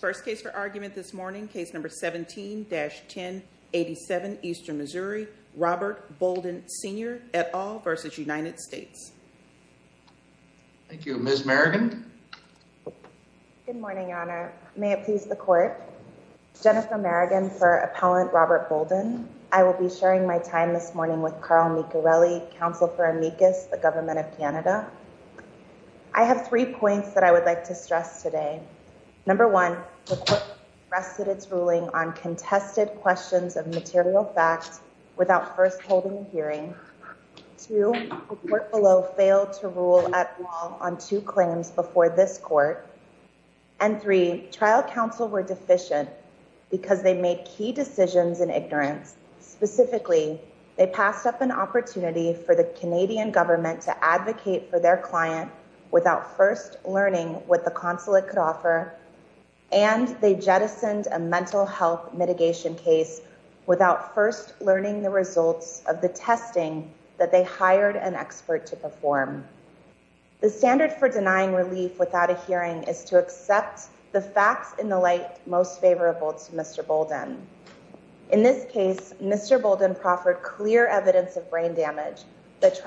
First case for argument this morning, Case No. 17-1087, Eastern Missouri, Robert Bolden, Sr. et al. v. United States. Thank you. Ms. Merrigan? Good morning, Your Honor. May it please the Court? Jennifer Merrigan for Appellant Robert Bolden. I will be sharing my time this morning with Carl Miccarelli, Counsel for Amicus, the Government of Canada. I have three points that I would like to stress today. Number one, the Court requested its ruling on contested questions of material facts without first holding a hearing. Two, the Court below failed to rule at all on two claims before this Court. And three, Trial Counsel were deficient because they made key decisions in ignorance. Specifically, they passed up an opportunity for the Canadian Government to advocate for their client without first learning what the consulate could offer, and they jettisoned a mental health mitigation case without first learning the results of the testing that they hired an expert to perform. The standard for denying relief without a hearing is to accept the facts in the light most favorable to Mr. Bolden. In this case, Mr. Bolden proffered clear evidence of brain damage that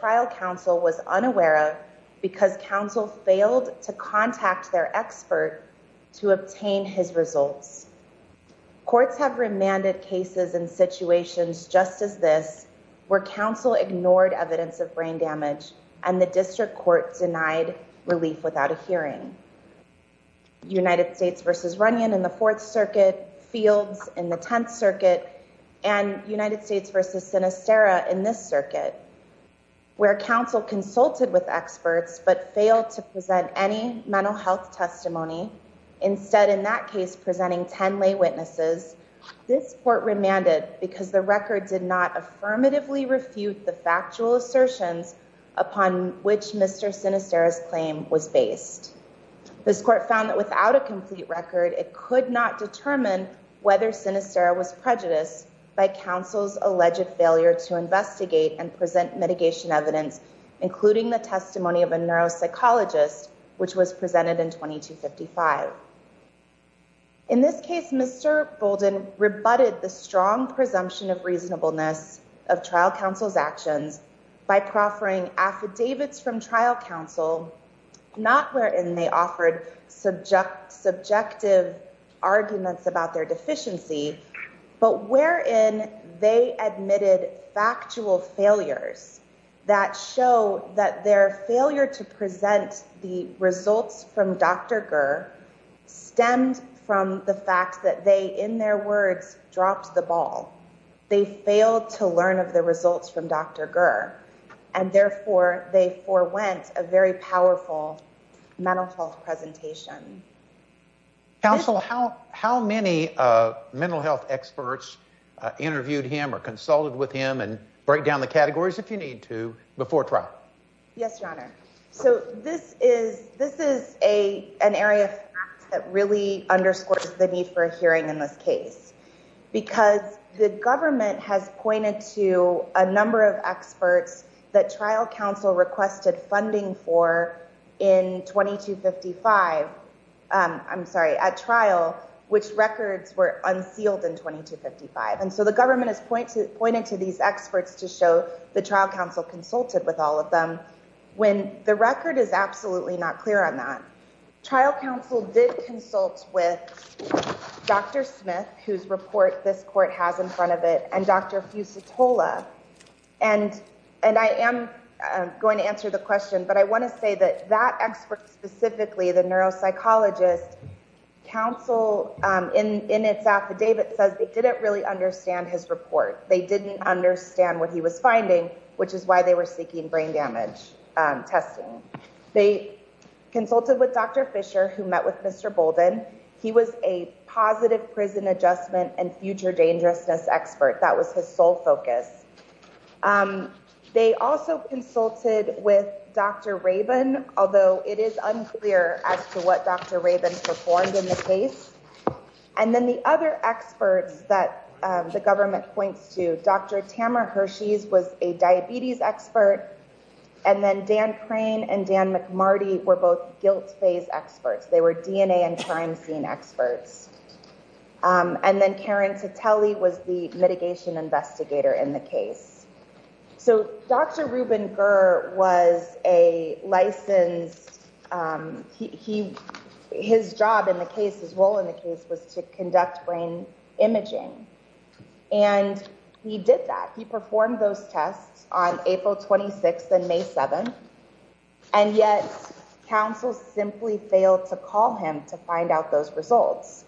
Trial Counsel was unaware of because Counsel failed to contact their expert to obtain his results. Courts have remanded cases and situations just as this, where Counsel ignored evidence of brain damage, and the District Court denied relief without a hearing. United States v. Runyon in the Fourth Circuit, Fields in the Tenth Circuit, and United States v. Sinisterra in this circuit, where Counsel consulted with experts but failed to present any mental health testimony, instead in that case presenting ten lay witnesses, this court remanded because the record did not affirmatively refute the factual assertions upon which Mr. Sinisterra's claim was based. This court found that without a complete record, it could not determine whether Sinisterra was prejudiced by Counsel's alleged failure to investigate and present mitigation evidence, including the testimony of a neuropsychologist, which was presented in 2255. In this case, Mr. Bolden rebutted the strong presumption of reasonableness of Trial Counsel's actions by proffering affidavits from Trial Counsel, not wherein they offered subjective arguments about their deficiency, but wherein they admitted factual failures that show that their failure to present the results from Dr. Gur stemmed from the fact that they, in their words, dropped the ball. They failed to learn of the results from Dr. Gur, and therefore they forewent a very powerful mental health presentation. Counsel, how many mental health experts interviewed him or consulted with him, and break down the categories if you need to, before trial? Yes, Your Honor. So this is an area of fact that really underscores the need for a hearing in this case, because the government has pointed to a number of experts that Trial Counsel requested funding for in 2255, I'm sorry, at trial, which records were unsealed in 2255. And so the government has pointed to these experts to show that Trial Counsel consulted with all of them, when the record is absolutely not clear on that. Trial Counsel did consult with Dr. Smith, whose report this court has in front of it, and Dr. Fusitola. And I am going to answer the question, but I want to say that that expert specifically, the neuropsychologist, Counsel, in its affidavit, says they didn't really understand his report. They didn't understand what he was finding, which is why they were seeking brain damage testing. They consulted with Dr. Fisher, who met with Mr. Bolden. He was a positive prison adjustment and future dangerousness expert. That was his sole focus. They also consulted with Dr. Rabin, although it is unclear as to what Dr. Rabin performed in the case. And then the other experts that the government points to, Dr. Tamara Hershey's was a diabetes expert. And then Dan Crane and Dan McMarty were both guilt phase experts. They were DNA and crime scene experts. And then Karen Teteli was the mitigation investigator in the case. So Dr. Reuben Gurr was a licensed. He his job in the case, his role in the case was to conduct brain imaging. And he did that. He performed those tests on April 26th and May 7th. And yet counsel simply failed to call him to find out those results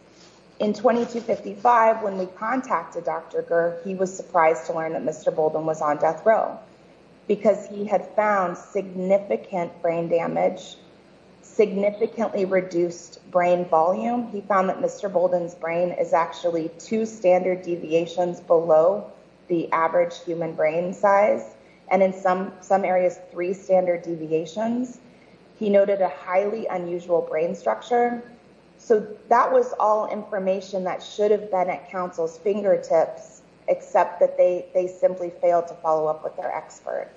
in 2255. When we contacted Dr. Gurr, he was surprised to learn that Mr. Bolden was on death row because he had found significant brain damage, significantly reduced brain volume. He found that Mr. Bolden's brain is actually two standard deviations below the average human brain size. And in some some areas, three standard deviations. He noted a highly unusual brain structure. So that was all information that should have been at counsel's fingertips, except that they they simply failed to follow up with their expert.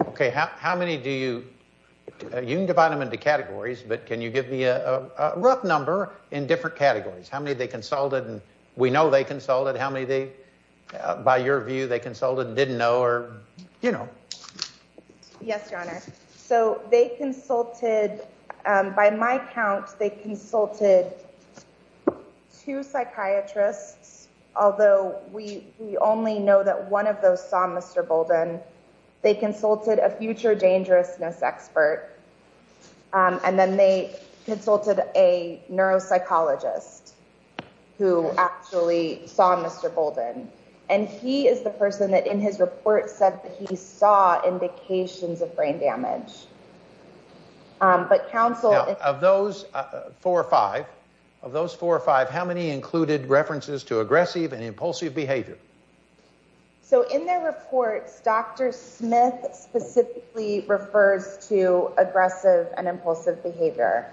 OK, how many do you divide them into categories? But can you give me a rough number in different categories? How many they consulted? And we know they consulted. How many they by your view, they consulted and didn't know or, you know. Yes, your honor. So they consulted by my count. They consulted two psychiatrists, although we only know that one of those saw Mr. Bolden. They consulted a future dangerousness expert and then they consulted a neuropsychologist who actually saw Mr. Bolden. And he is the person that in his report said that he saw indications of brain damage. But counsel of those four or five of those four or five, how many included references to aggressive and impulsive behavior? So in their reports, Dr. Smith specifically refers to aggressive and impulsive behavior.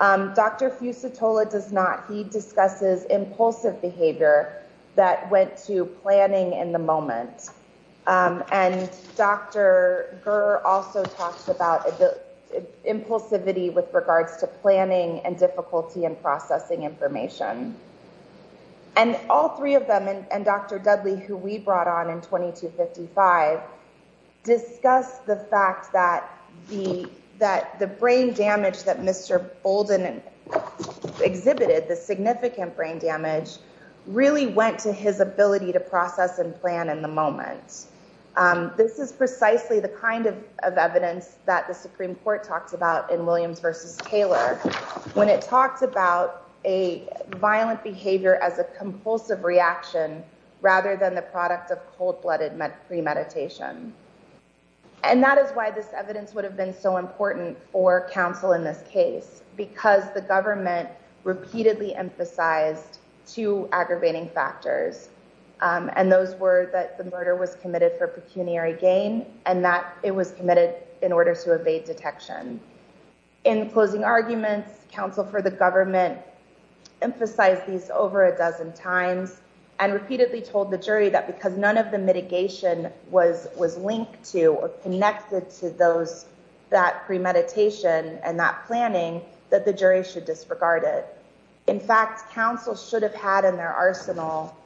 Dr. Fusatola does not. He discusses impulsive behavior that went to planning in the moment. And Dr. Gurr also talks about the impulsivity with regards to planning and difficulty in processing information. And all three of them and Dr. Dudley, who we brought on in twenty to fifty five, discuss the fact that the that the brain damage that Mr. Bolden exhibited, the significant brain damage really went to his ability to process and plan in the moment. This is precisely the kind of evidence that the Supreme Court talks about in Williams versus Taylor. When it talks about a violent behavior as a compulsive reaction rather than the product of cold blooded premeditation. And that is why this evidence would have been so important for counsel in this case, because the government repeatedly emphasized two aggravating factors. And those were that the murder was committed for pecuniary gain and that it was committed in order to evade detection. In closing arguments, counsel for the government emphasized these over a dozen times and repeatedly told the jury that because none of the mitigation was was linked to or connected to those, that premeditation and that planning that the jury should disregard it. In fact, counsel should have had in their arsenal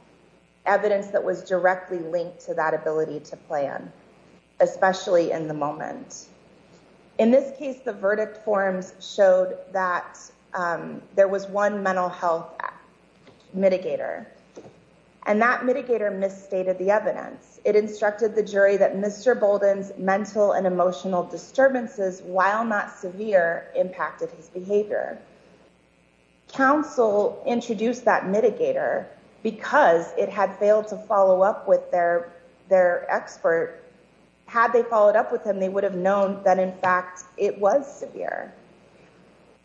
evidence that was directly linked to that ability to plan, especially in the moment. In this case, the verdict forms showed that there was one mental health mitigator and that mitigator misstated the evidence. It instructed the jury that Mr. Bolden's mental and emotional disturbances, while not severe, impacted his behavior. Counsel introduced that mitigator because it had failed to follow up with their their expert. Had they followed up with him, they would have known that, in fact, it was severe.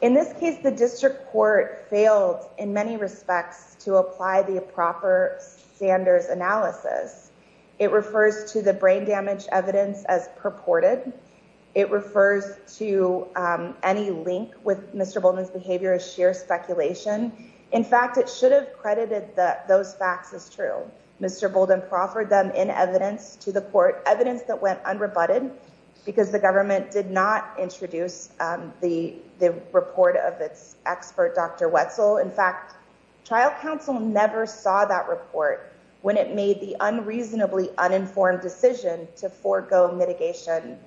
In this case, the district court failed in many respects to apply the proper standards analysis. It refers to the brain damage evidence as purported. It refers to any link with Mr. Bolden's behavior as sheer speculation. In fact, it should have credited that those facts as true. Mr. Bolden proffered them in evidence to the court evidence that went unrebutted because the government did not introduce the report of its expert, Dr. Wetzel. In fact, trial counsel never saw that report when it made the unreasonably uninformed decision to forego mitigation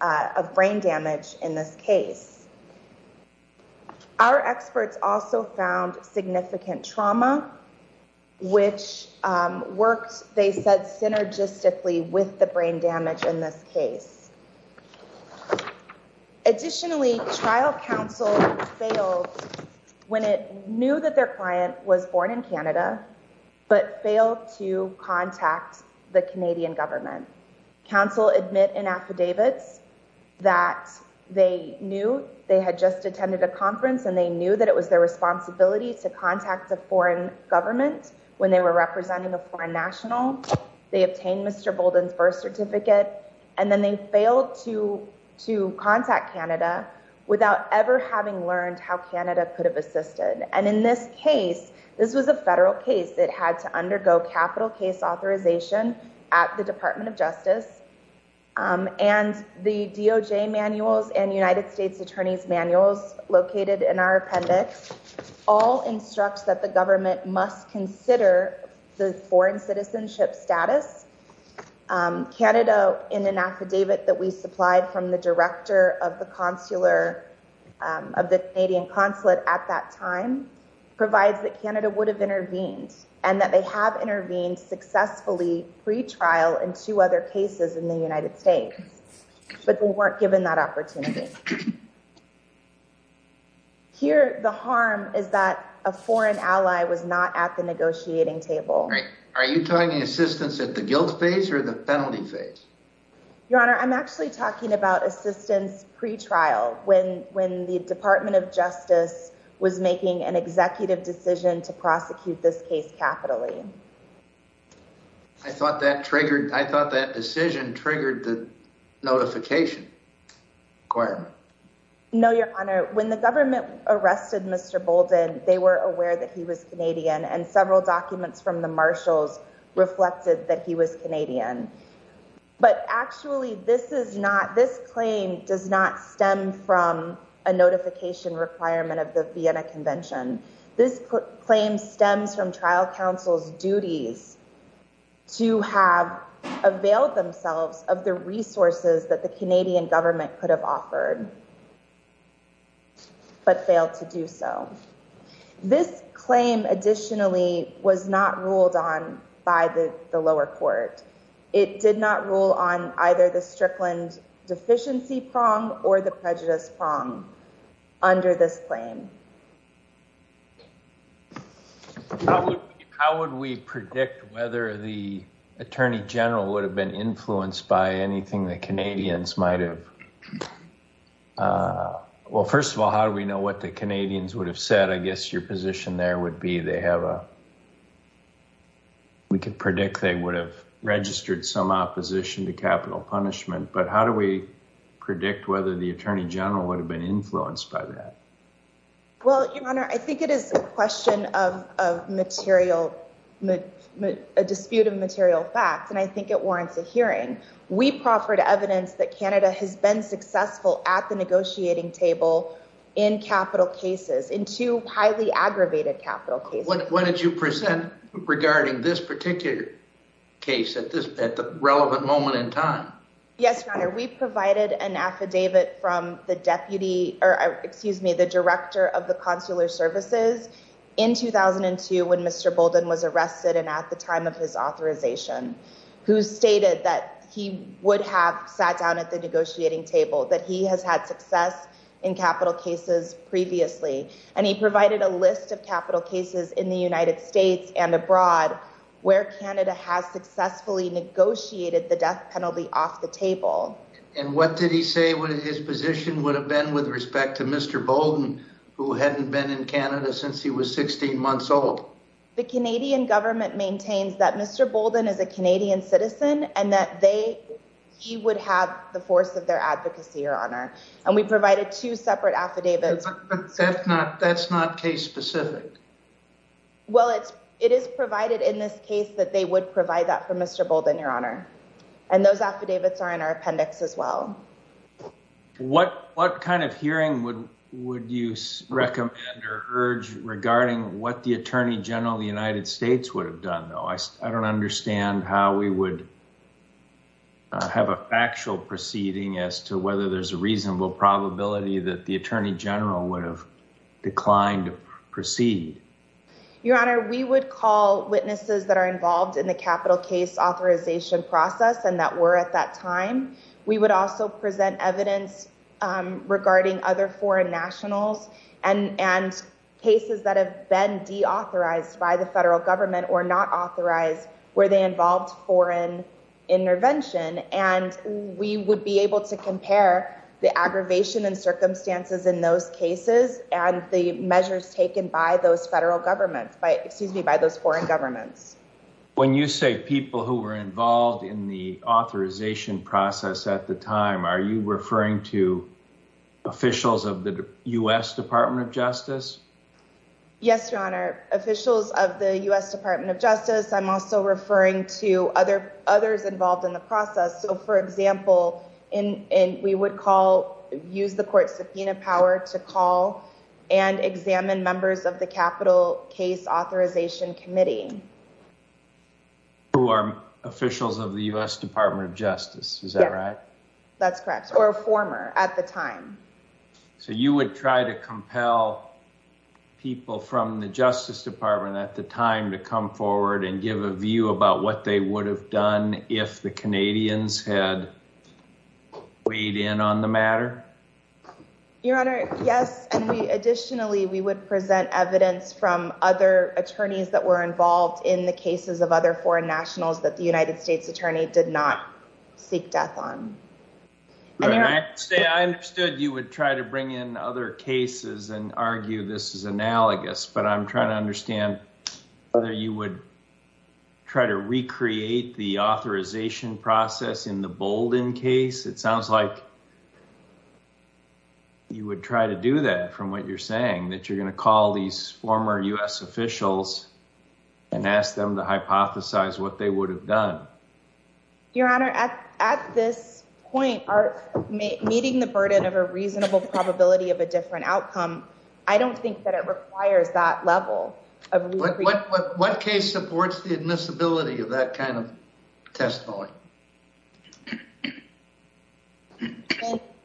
of brain damage. In this case, our experts also found significant trauma, which works, they said, synergistically with the brain damage in this case. Additionally, trial counsel failed when it knew that their client was born in Canada, but failed to contact the Canadian government. Counsel admit in affidavits that they knew they had just attended a conference and they knew that it was their responsibility to contact the foreign government when they were representing a foreign national. They obtained Mr. Bolden's birth certificate and then they failed to to contact Canada without ever having learned how Canada could have assisted. And in this case, this was a federal case that had to undergo capital case authorization at the Department of Justice. And the DOJ manuals and United States attorney's manuals located in our appendix all instructs that the government must consider the foreign citizenship status. Canada, in an affidavit that we supplied from the director of the consular of the Canadian consulate at that time, provides that Canada would have intervened and that they have intervened successfully pre-trial in two other cases in the United States. But they weren't given that opportunity. Here, the harm is that a foreign ally was not at the negotiating table. Are you talking assistance at the guilt phase or the penalty phase? Your Honor, I'm actually talking about assistance pre-trial when the Department of Justice was making an executive decision to prosecute this case capitally. I thought that decision triggered the notification requirement. No, Your Honor, when the government arrested Mr. Bolden, they were aware that he was Canadian and several documents from the marshals reflected that he was Canadian. But actually, this claim does not stem from a notification requirement of the Vienna Convention. This claim stems from trial counsel's duties to have availed themselves of the resources that the Canadian government could have offered but failed to do so. This claim additionally was not ruled on by the lower court. It did not rule on either the Strickland deficiency prong or the prejudice prong under this claim. How would we predict whether the Attorney General would have been influenced by anything the Canadians might have... Well, first of all, how do we know what the Canadians would have said? I guess your position there would be they have a... We could predict they would have registered some opposition to capital punishment. But how do we predict whether the Attorney General would have been influenced by that? Well, Your Honor, I think it is a question of a dispute of material facts, and I think it warrants a hearing. We proffered evidence that Canada has been successful at the negotiating table in capital cases, in two highly aggravated capital cases. What did you present regarding this particular case at the relevant moment in time? Yes, Your Honor, we provided an affidavit from the Director of the Consular Services in 2002 when Mr. Bolden was arrested and at the time of his authorization, who stated that he would have sat down at the negotiating table, that he has had success in capital cases previously. And he provided a list of capital cases in the United States and abroad where Canada has successfully negotiated the death penalty off the table. And what did he say his position would have been with respect to Mr. Bolden, who hadn't been in Canada since he was 16 months old? The Canadian government maintains that Mr. Bolden is a Canadian citizen and that he would have the force of their advocacy, Your Honor. And we provided two separate affidavits. But that's not case specific. Well, it is provided in this case that they would provide that for Mr. Bolden, Your Honor. And those affidavits are in our appendix as well. What kind of hearing would you recommend or urge regarding what the Attorney General of the United States would have done? I don't know. I don't understand how we would have a factual proceeding as to whether there's a reasonable probability that the Attorney General would have declined to proceed. Your Honor, we would call witnesses that are involved in the capital case authorization process and that were at that time. We would also present evidence regarding other foreign nationals and cases that have been deauthorized by the federal government or not authorized where they involved foreign intervention. And we would be able to compare the aggravation and circumstances in those cases and the measures taken by those federal governments, by excuse me, by those foreign governments. When you say people who were involved in the authorization process at the time, are you referring to officials of the U.S. Department of Justice? Yes, Your Honor. Officials of the U.S. Department of Justice. I'm also referring to other others involved in the process. So, for example, we would call, use the court subpoena power to call and examine members of the capital case authorization committee. Who are officials of the U.S. Department of Justice. Is that right? That's correct. Or a former at the time. So you would try to compel people from the Justice Department at the time to come forward and give a view about what they would have done if the Canadians had weighed in on the matter? Your Honor, yes. And additionally, we would present evidence from other attorneys that were involved in the cases of other foreign nationals that the United States attorney did not seek death on. I understood you would try to bring in other cases and argue this is analogous, but I'm trying to understand whether you would try to recreate the authorization process in the Bolden case. It sounds like you would try to do that from what you're saying, that you're going to call these former U.S. officials and ask them to hypothesize what they would have done. Your Honor, at this point, are meeting the burden of a reasonable probability of a different outcome. I don't think that it requires that level of what case supports the admissibility of that kind of testimony. In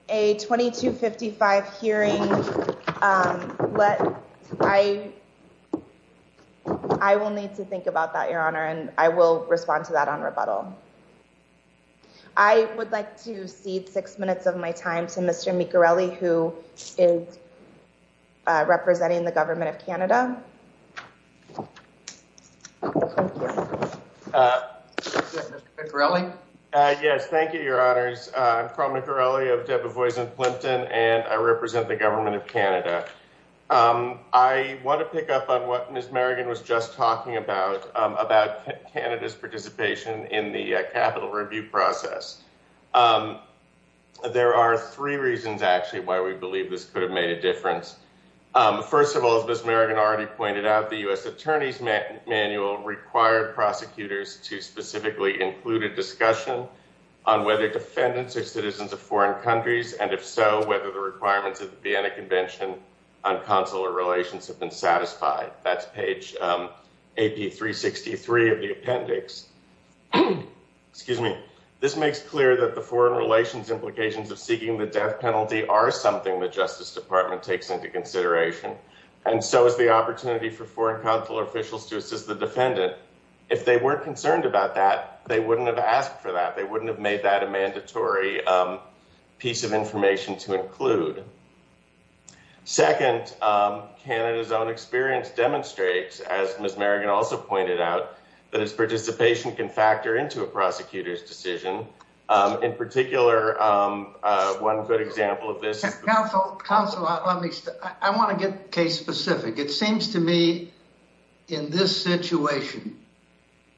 a 2255 hearing, I will need to think about that, Your Honor, and I will respond to that on rebuttal. I would like to cede six minutes of my time to Mr. Miccarelli, who is representing the Government of Canada. Mr. Miccarelli? Yes, thank you, Your Honors. I'm Carl Miccarelli of Debevoise & Plimpton, and I represent the Government of Canada. I want to pick up on what Ms. Merrigan was just talking about, about Canada's participation in the capital review process. There are three reasons, actually, why we believe this could have made a difference. First of all, as Ms. Merrigan already pointed out, the U.S. Attorney's Manual required prosecutors to specifically include a discussion on whether defendants are citizens of foreign countries, and if so, whether the requirements of the Vienna Convention on Consular Relations have been satisfied. That's page AP363 of the appendix. This makes clear that the foreign relations implications of seeking the death penalty are something the Justice Department takes into consideration, and so is the opportunity for foreign consular officials to assist the defendant. If they weren't concerned about that, they wouldn't have asked for that. They wouldn't have made that a mandatory piece of information to include. Second, Canada's own experience demonstrates, as Ms. Merrigan also pointed out, that its participation can factor into a prosecutor's decision. In particular, one good example of this... Counsel, I want to get case-specific. It seems to me, in this situation,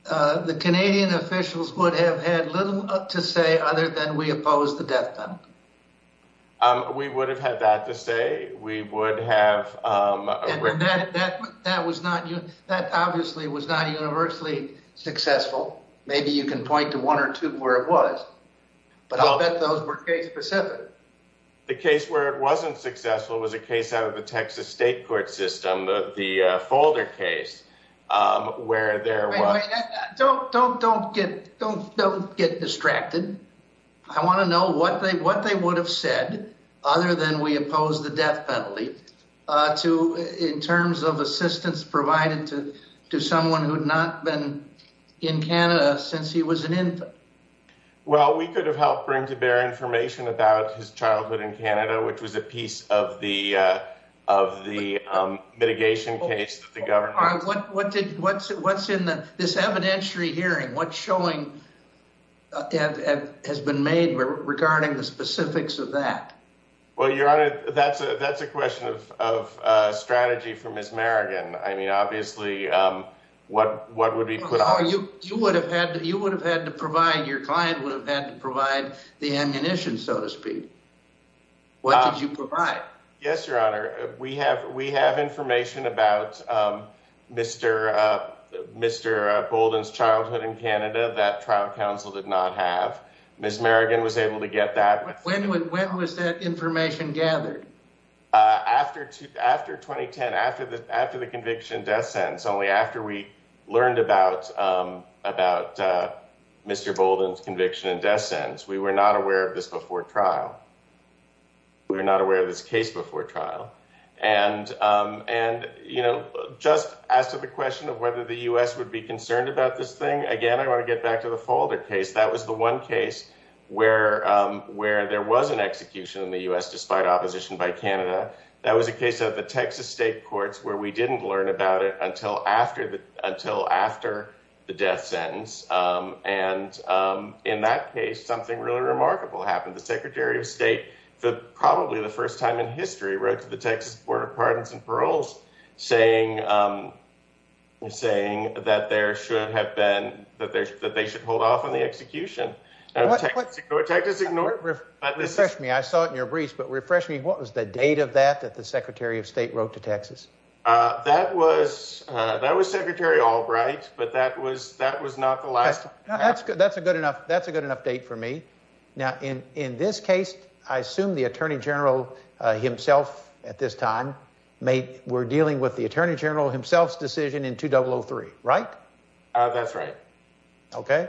the Canadian officials would have had little to say other than we oppose the death penalty. We would have had that to say. We would have... That obviously was not universally successful. Maybe you can point to one or two where it was, but I'll bet those were case-specific. The case where it wasn't successful was a case out of the Texas state court system, the Folder case, where there was... Don't get distracted. I want to know what they would have said, other than we oppose the death penalty, in terms of assistance provided to someone who had not been in Canada since he was an infant. Well, we could have helped bring to bear information about his childhood in Canada, which was a piece of the mitigation case that the government... What's in this evidentiary hearing? What showing has been made regarding the specifics of that? Well, Your Honor, that's a question of strategy for Ms. Merrigan. I mean, obviously, what would be put on... You would have had to provide... Your client would have had to provide the ammunition, so to speak. What did you provide? Yes, Your Honor. We have information about Mr. Bolden's childhood in Canada that trial counsel did not have. Ms. Merrigan was able to get that. When was that information gathered? After 2010, after the conviction and death sentence, only after we learned about Mr. Bolden's conviction and death sentence. We were not aware of this before trial. We were not aware of this case before trial. And just as to the question of whether the U.S. would be concerned about this thing, again, I want to get back to the Folder case. That was the one case where there was an execution in the U.S. despite opposition by Canada. That was a case of the Texas state courts where we didn't learn about it until after the death sentence. And in that case, something really remarkable happened. The Secretary of State, probably the first time in history, wrote to the Texas Board of Pardons and Paroles saying that they should hold off on the execution. Refresh me. I saw it in your briefs, but refresh me. What was the date of that that the Secretary of State wrote to Texas? That was Secretary Albright, but that was not the last. That's a good enough date for me. Now, in this case, I assume the Attorney General himself at this time were dealing with the Attorney General himself's decision in 2003, right? That's right. Okay.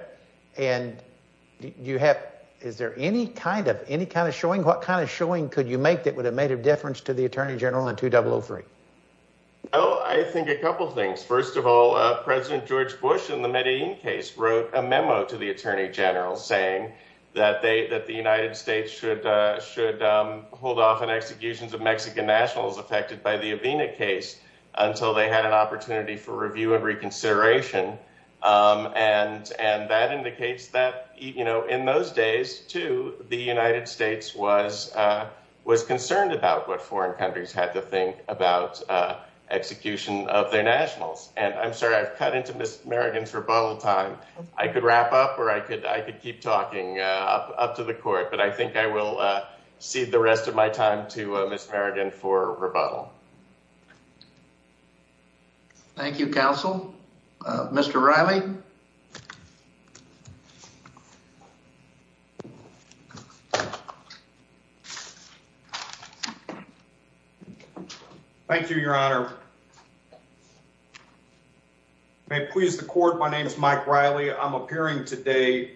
And is there any kind of showing? What kind of showing could you make that would have made a difference to the Attorney General in 2003? Oh, I think a couple of things. First of all, President George Bush in the Medellin case wrote a memo to the Attorney General saying that the United States should hold off on executions of Mexican nationals affected by the Avena case until they had an opportunity for review and reconsideration. And that indicates that in those days, too, the United States was concerned about what foreign countries had to think about execution of their nationals. And I'm sorry, I've cut into Ms. Merrigan's rebuttal time. I could wrap up or I could keep talking up to the court, but I think I will cede the rest of my time to Ms. Merrigan for rebuttal. Thank you, Counsel. Mr. Riley. Thank you, Your Honor. May it please the court. My name is Mike Riley. I'm appearing today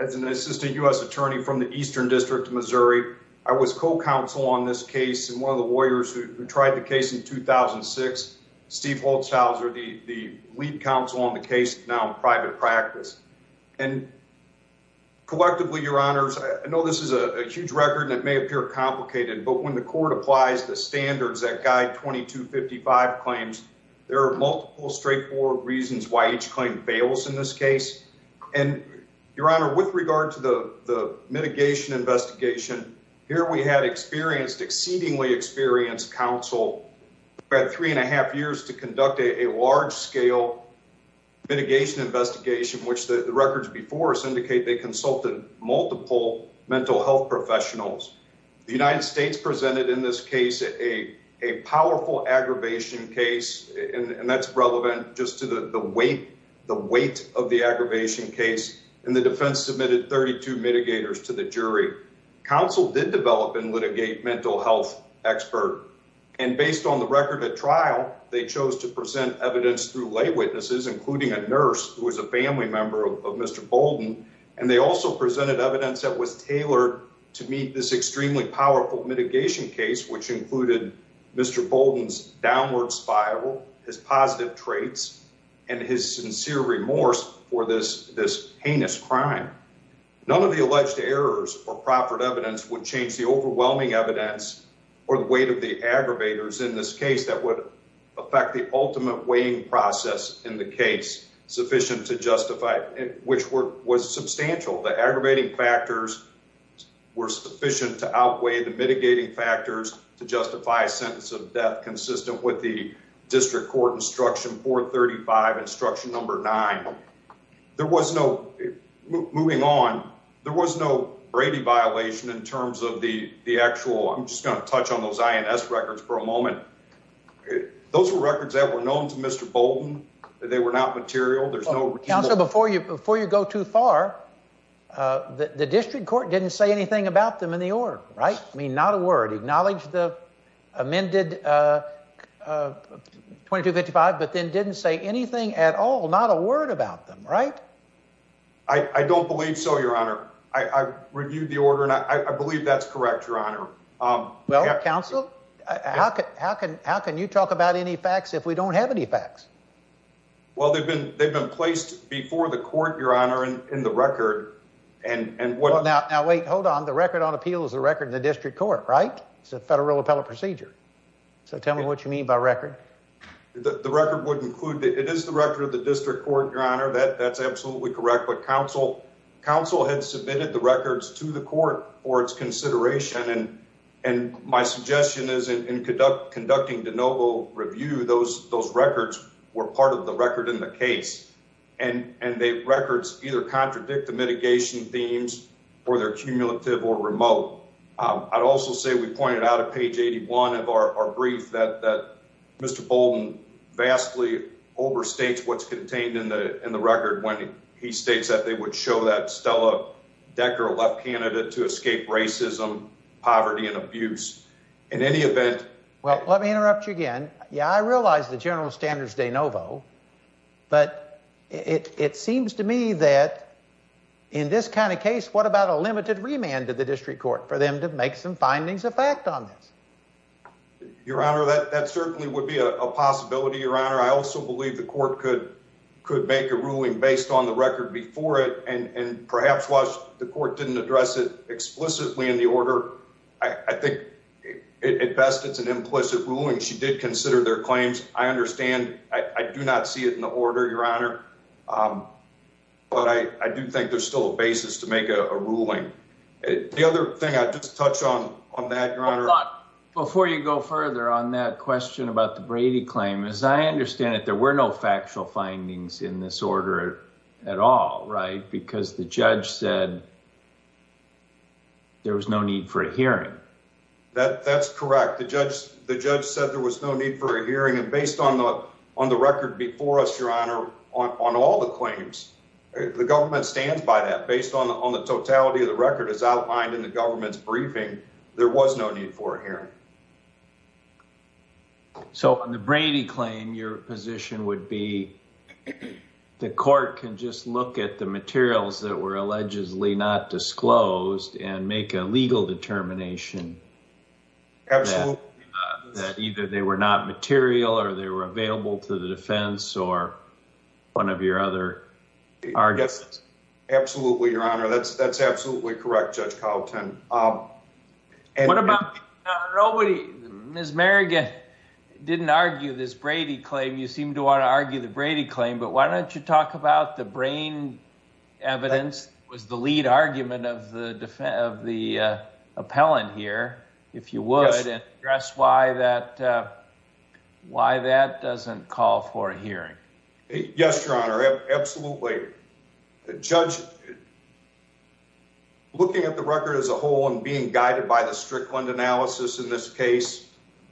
as an assistant U.S. attorney from the Eastern District of Missouri. I was co-counsel on this case and one of the lawyers who tried the case in 2006, Steve Holzhauser, the lead counsel on the case now in private practice. And collectively, Your Honors, I know this is a huge record and it may appear complicated, but when the court applies the standards that guide 2255 claims, there are multiple straightforward reasons why each claim fails in this case. And, Your Honor, with regard to the mitigation investigation, here we had experienced, exceedingly experienced counsel. We had three and a half years to conduct a large scale mitigation investigation, which the records before us indicate they consulted multiple mental health professionals. The United States presented in this case a powerful aggravation case, and that's relevant just to the weight of the aggravation case, and the defense submitted 32 mitigators to the jury. Counsel did develop and litigate mental health expert. And based on the record at trial, they chose to present evidence through lay witnesses, including a nurse who was a family member of Mr. Bolden. And they also presented evidence that was tailored to meet this extremely powerful mitigation case, which included Mr. Bolden's downward spiral, his positive traits, and his sincere remorse for this heinous crime. None of the alleged errors or proffered evidence would change the overwhelming evidence or the weight of the aggravators in this case that would affect the ultimate weighing process in the case sufficient to justify, which was substantial. The aggravating factors were sufficient to outweigh the mitigating factors to justify a sentence of death consistent with the district court instruction 435 instruction number nine. There was no moving on. There was no Brady violation in terms of the actual. I'm just going to touch on those INS records for a moment. Those are records that were known to Mr. Bolden. They were not material. There's no council before you before you go too far. The district court didn't say anything about them in the order, right? I mean, not a word. Acknowledge the amended 2255, but then didn't say anything at all. Not a word about them, right? I don't believe so. Your honor, I reviewed the order, and I believe that's correct. Your honor. Well, counsel, how can how can how can you talk about any facts if we don't have any facts? Well, they've been they've been placed before the court, your honor, and in the record and what now? Now, wait, hold on. The record on appeal is a record in the district court, right? It's a federal appellate procedure. So tell me what you mean by record. The record would include it is the record of the district court. Your honor that that's absolutely correct. But council council had submitted the records to the court for its consideration. And and my suggestion is in conduct, conducting the noble review. Those those records were part of the record in the case, and the records either contradict the mitigation themes or their cumulative or remote. I'd also say we pointed out a page 81 of our brief that Mr. Bolden vastly overstates what's contained in the record when he states that they would show that Stella Decker left candidate to escape racism, poverty and abuse in any event. Well, let me interrupt you again. Yeah, I realize the general standards de novo. But it seems to me that in this kind of case, what about a limited remand to the district court for them to make some findings of fact on this? Your honor, that that certainly would be a possibility. Your honor. I also believe the court could could make a ruling based on the record before it. And perhaps watch the court didn't address it explicitly in the order. I think it best. It's an implicit ruling. She did consider their claims. I understand. I do not see it in the order. Your honor. But I do think there's still a basis to make a ruling. The other thing I just touched on on that, your honor. Before you go further on that question about the Brady claim, as I understand it, there were no factual findings in this order at all. Right. Because the judge said. There was no need for a hearing that that's correct. The judge the judge said there was no need for a hearing. And based on the on the record before us, your honor, on all the claims, the government stands by that based on the on the totality of the record is outlined in the government's briefing. There was no need for a hearing. So, on the Brady claim, your position would be the court can just look at the materials that were allegedly not disclosed and make a legal determination. Absolutely. That either they were not material or they were available to the defense or one of your other. Absolutely. Your honor. That's that's absolutely correct. Judge Carlton. And what about nobody? Ms. Merrigan didn't argue this Brady claim. You seem to want to argue the Brady claim, but why don't you talk about the brain evidence was the lead argument of the of the appellant here, if you would address why that why that doesn't call for a hearing. Yes, your honor. Absolutely. The judge. Looking at the record as a whole and being guided by the Strickland analysis in this case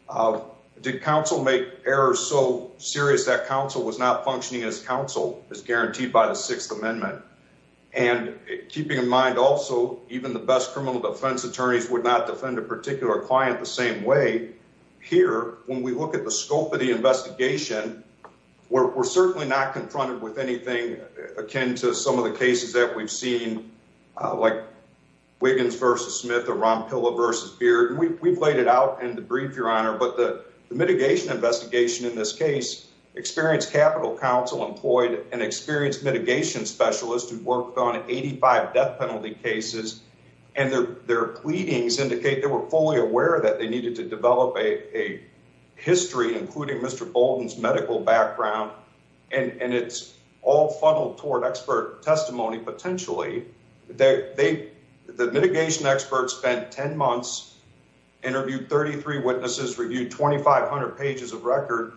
of did counsel make errors so serious that counsel was not functioning as counsel is guaranteed by the Sixth Amendment. And keeping in mind also, even the best criminal defense attorneys would not defend a particular client the same way here. When we look at the scope of the investigation, we're certainly not confronted with anything akin to some of the cases that we've seen. Wiggins versus Smith or Ron Pilla versus Beard, and we've laid it out in the brief, your honor. But the mitigation investigation in this case experience Capital Council employed an experienced mitigation specialist who worked on 85 death penalty cases and their their pleadings indicate they were fully aware that they needed to develop a history, including Mr. Bolton's medical background, and it's all funneled toward expert testimony. Potentially, the mitigation experts spent 10 months, interviewed 33 witnesses, reviewed 2500 pages of record,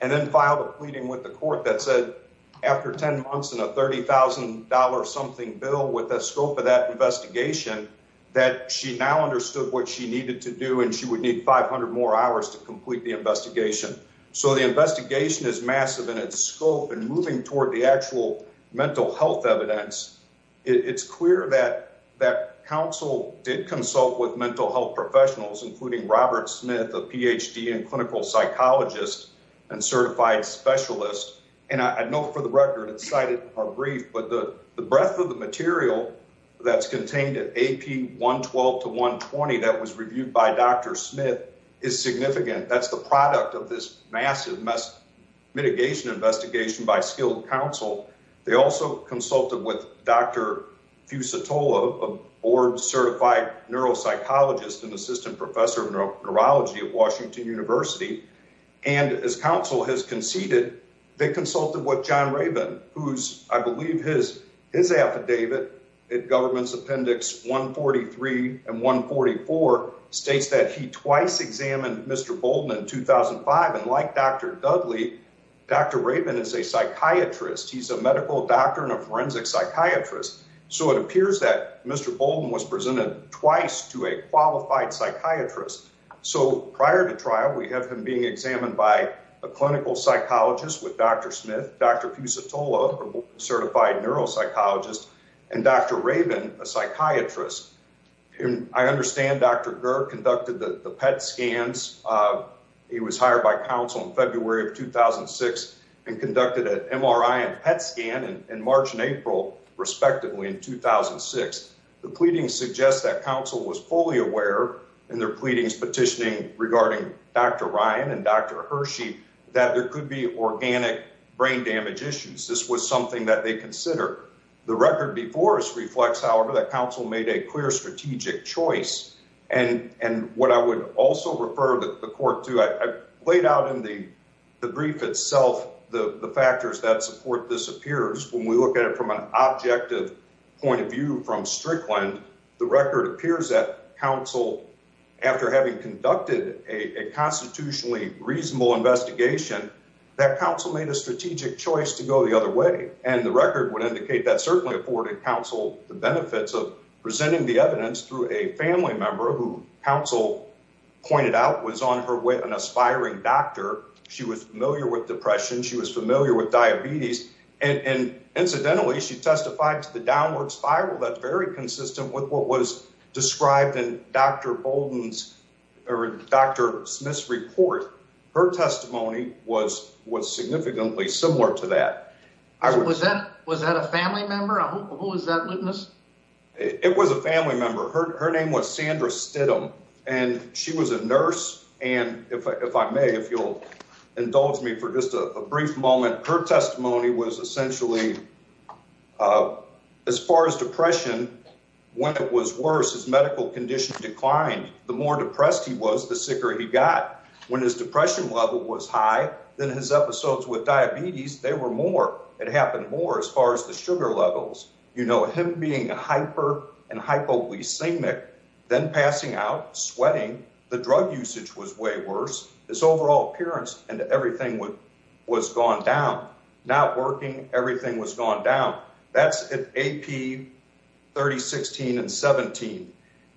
and then filed a pleading with the court that said after 10 months and a $30000 something bill with the scope of that investigation that she now understood what she needed to do. And she would need 500 more hours to complete the investigation. So the investigation is massive in its scope and moving toward the actual mental health evidence. It's clear that that council did consult with mental health professionals, including Robert Smith, a PhD and clinical psychologist and certified specialist. And I know for the record, it's cited our brief, but the breadth of the material that's contained at AP 112 to 120 that was reviewed by Dr. Smith is significant. That's the product of this massive mess mitigation investigation by skilled counsel. They also consulted with Dr. Fusatola, a board certified neuropsychologist and assistant professor of neurology at Washington University. And as counsel has conceded, they consulted with John Raven, who's I believe his his affidavit at government's appendix 143 and 144 states that he twice examined Mr. Bolden in 2005. And like Dr. Dudley, Dr. Raven is a psychiatrist. He's a medical doctor and a forensic psychiatrist. So it appears that Mr. Bolden was presented twice to a qualified psychiatrist. So prior to trial, we have him being examined by a clinical psychologist with Dr. Smith, Dr. Fusatola, certified neuropsychologist and Dr. Raven, a psychiatrist. I understand Dr. Gert conducted the PET scans. He was hired by counsel in February of 2006 and conducted an MRI and PET scan in March and April, respectively, in 2006. The pleadings suggest that counsel was fully aware in their pleadings petitioning regarding Dr. Ryan and Dr. Hershey that there could be organic brain damage issues. This was something that they consider. The record before us reflects, however, that counsel made a clear strategic choice. And and what I would also refer the court to, I laid out in the brief itself, the factors that support this appears when we look at it from an objective point of view from Strickland. The record appears that counsel, after having conducted a constitutionally reasonable investigation, that counsel made a strategic choice to go the other way. And the record would indicate that certainly afforded counsel the benefits of presenting the evidence through a family member who counsel pointed out was on her way. An aspiring doctor. She was familiar with depression. She was familiar with diabetes. And incidentally, she testified to the downward spiral. That's very consistent with what was described in Dr. Bolden's or Dr. Smith's report. Her testimony was was significantly similar to that. Was that was that a family member? Who was that witness? It was a family member. Her name was Sandra Stidham, and she was a nurse. And if I may, if you'll indulge me for just a brief moment, her testimony was essentially as far as depression. When it was worse, his medical condition declined. The more depressed he was, the sicker he got. When his depression level was high, then his episodes with diabetes, they were more. It happened more as far as the sugar levels. You know, him being a hyper and hypoglycemic, then passing out, sweating. The drug usage was way worse. His overall appearance and everything was gone down. Not working. Everything was gone down. That's AP 30, 16 and 17.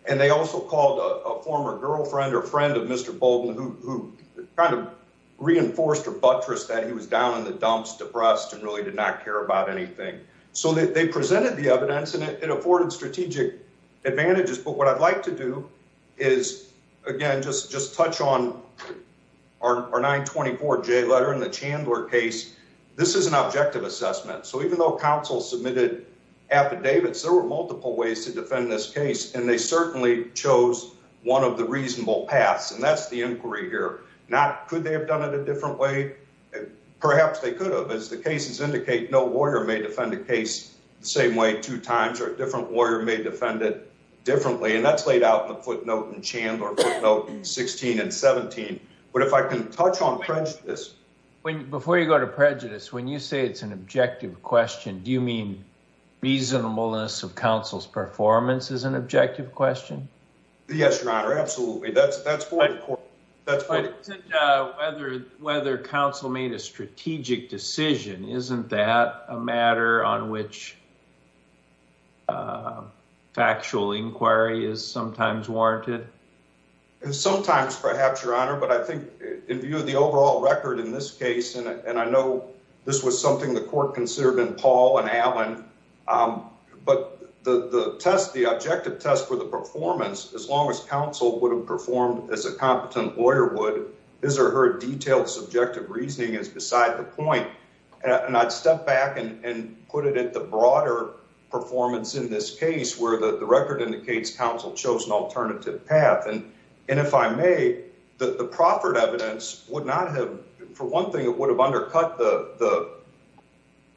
And they also called a former girlfriend or friend of Mr. Bolden, who kind of reinforced or buttressed that he was down in the dumps, depressed and really did not care about anything. So they presented the evidence and it afforded strategic advantages. But what I'd like to do is, again, just just touch on our 924 J letter in the Chandler case. This is an objective assessment. So even though counsel submitted affidavits, there were multiple ways to defend this case. And they certainly chose one of the reasonable paths. And that's the inquiry here. Could they have done it a different way? Perhaps they could have, as the cases indicate. No lawyer may defend the case the same way two times or a different lawyer may defend it differently. And that's laid out in the footnote in Chandler 16 and 17. But if I can touch on this before you go to prejudice, when you say it's an objective question, do you mean reasonableness of counsel's performance is an objective question? Yes, Your Honor. Absolutely. That's that's whether whether counsel made a strategic decision. Isn't that a matter on which factual inquiry is sometimes warranted? Sometimes, perhaps, Your Honor. But I think in view of the overall record in this case, and I know this was something the court considered in Paul and Alan. But the test, the objective test for the performance, as long as counsel would have performed as a competent lawyer, would his or her detailed subjective reasoning is beside the point. And I'd step back and put it at the broader performance in this case where the record indicates counsel chose an alternative path. And if I may, the proffered evidence would not have. For one thing, it would have undercut the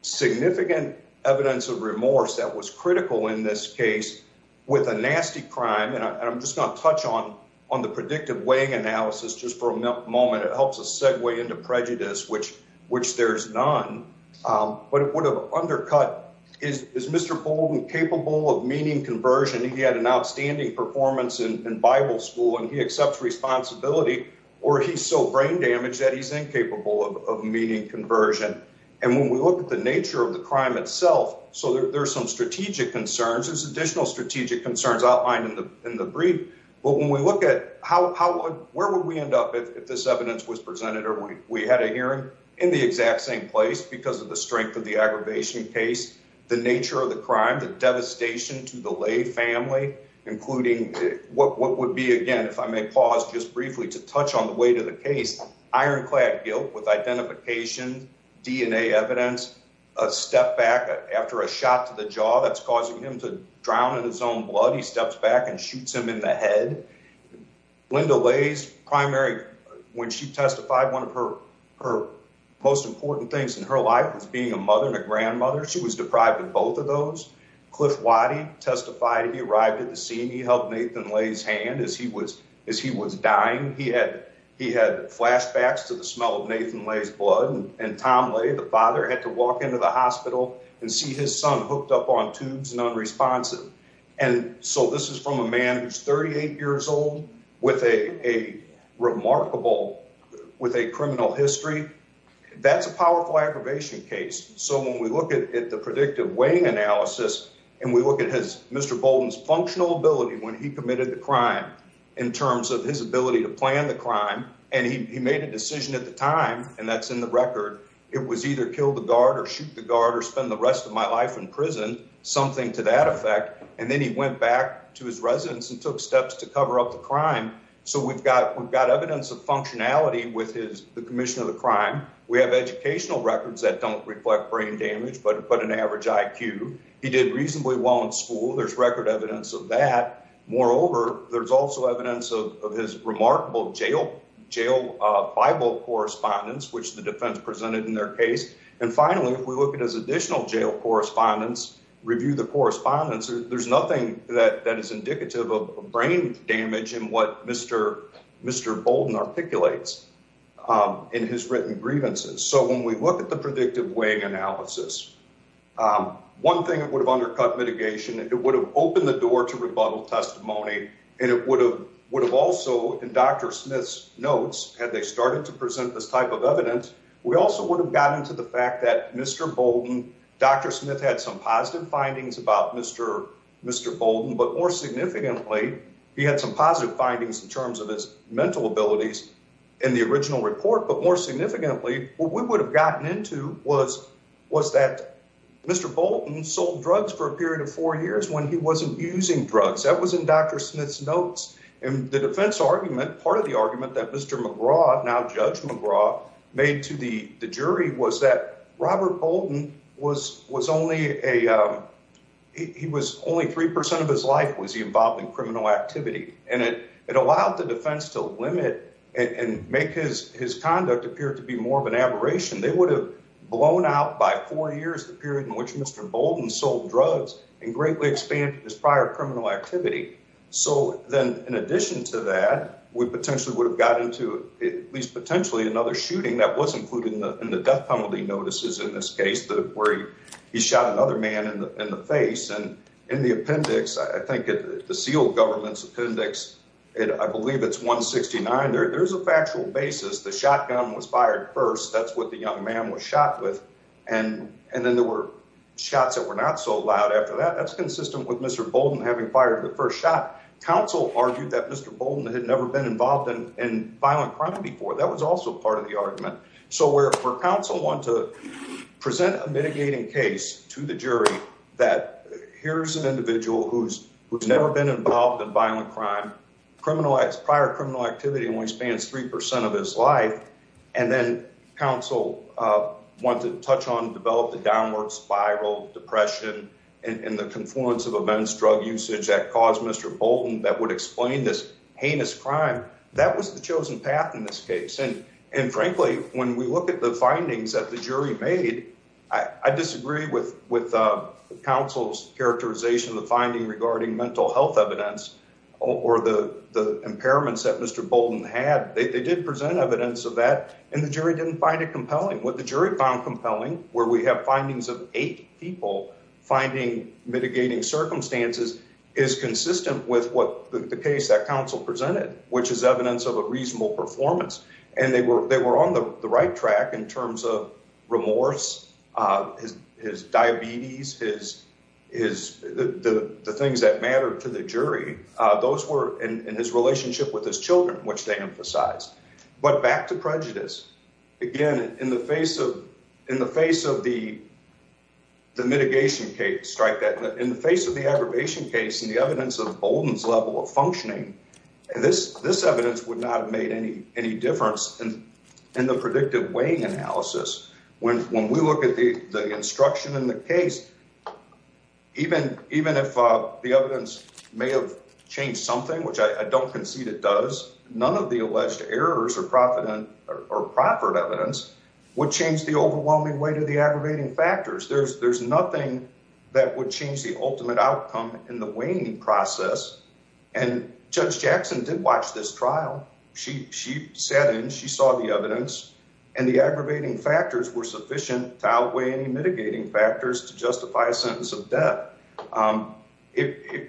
significant evidence of remorse that was critical in this case with a nasty crime. And I'm just going to touch on on the predictive weighing analysis just for a moment. It helps us segue into prejudice, which which there's none. But it would have undercut is is Mr. Bolden capable of meaning conversion? He had an outstanding performance in Bible school and he accepts responsibility or he's so brain damaged that he's incapable of meaning conversion. And when we look at the nature of the crime itself, so there's some strategic concerns, there's additional strategic concerns outlined in the in the brief. But when we look at how, how, where would we end up if this evidence was presented or we had a hearing in the exact same place because of the strength of the aggravation case, the nature of the crime, the devastation to the lay family, including what would be, again, if I may pause just briefly to touch on the weight of the case. Ironclad guilt with identification, DNA evidence, a step back after a shot to the jaw that's causing him to drown in his own blood. He steps back and shoots him in the head. Linda lays primary when she testified. One of her her most important things in her life was being a mother and a grandmother. She was deprived of both of those. Cliff Waddy testified. He arrived at the scene. He held Nathan Lay's hand as he was as he was dying. He had he had flashbacks to the smell of Nathan Lay's blood and Tom lay. The father had to walk into the hospital and see his son hooked up on tubes and unresponsive. And so this is from a man who's 38 years old with a remarkable with a criminal history. That's a powerful aggravation case. So when we look at it, the predictive weighing analysis and we look at his Mr. Bolton's functional ability when he committed the crime in terms of his ability to plan the crime. And he made a decision at the time. And that's in the record. It was either kill the guard or shoot the guard or spend the rest of my life in prison. Something to that effect. And then he went back to his residence and took steps to cover up the crime. So we've got we've got evidence of functionality with his the commission of the crime. We have educational records that don't reflect brain damage, but but an average IQ. He did reasonably well in school. There's record evidence of that. Moreover, there's also evidence of his remarkable jail jail Bible correspondence, which the defense presented in their case. And finally, if we look at his additional jail correspondence, review the correspondence, there's nothing that that is indicative of brain damage. And what Mr. Mr. Bolden articulates in his written grievances. So when we look at the predictive weighing analysis, one thing that would have undercut mitigation, it would have opened the door to rebuttal testimony and it would have would have also been Dr. Smith's notes had they started to present this type of evidence. We also would have gotten to the fact that Mr. Bolden, Dr. Smith had some positive findings about Mr. Mr. Bolden, but more significantly, he had some positive findings in terms of his mental abilities in the original report. But more significantly, what we would have gotten into was was that Mr. Bolden sold drugs for a period of four years when he wasn't using drugs. That was in Dr. Smith's notes. And the defense argument, part of the argument that Mr. McGraw, now Judge McGraw, made to the jury was that Robert Bolden was was only a. He was only three percent of his life, was he involved in criminal activity? And it it allowed the defense to limit and make his his conduct appear to be more of an aberration. They would have blown out by four years, the period in which Mr. Bolden sold drugs and greatly expanded his prior criminal activity. So then, in addition to that, we potentially would have gotten to at least potentially another shooting. That was included in the death penalty notices in this case where he shot another man in the face. And in the appendix, I think the sealed government's appendix, I believe it's 169. There is a factual basis. The shotgun was fired first. That's what the young man was shot with. And and then there were shots that were not so loud after that. That's consistent with Mr. Bolden having fired the first shot. Counsel argued that Mr. Bolden had never been involved in violent crime before. That was also part of the argument. So we're for counsel want to present a mitigating case to the jury that here's an individual who's who's never been involved in violent crime. Criminalized prior criminal activity only spans three percent of his life. And then counsel want to touch on develop the downward spiral depression and the confluence of a men's drug usage that caused Mr. Bolden that would explain this heinous crime. That was the chosen path in this case. And frankly, when we look at the findings that the jury made, I disagree with with counsel's characterization. The finding regarding mental health evidence or the impairments that Mr. Bolden had. They did present evidence of that. And the jury didn't find it compelling. What the jury found compelling, where we have findings of eight people finding mitigating circumstances is consistent with what the case that counsel presented, which is evidence of a reasonable performance. And they were they were on the right track in terms of remorse, his diabetes, his is the things that matter to the jury. Those were in his relationship with his children, which they emphasized. But back to prejudice again in the face of in the face of the. The mitigation case strike that in the face of the aggravation case and the evidence of Bolden's level of functioning, this this evidence would not have made any any difference in the predictive weighing analysis. When when we look at the instruction in the case, even even if the evidence may have changed something, which I don't concede it does. None of the alleged errors or profit or proffered evidence would change the overwhelming weight of the aggravating factors. There's there's nothing that would change the ultimate outcome in the weighing process. And Judge Jackson did watch this trial. She she said and she saw the evidence and the aggravating factors were sufficient to outweigh any mitigating factors to justify a sentence of death.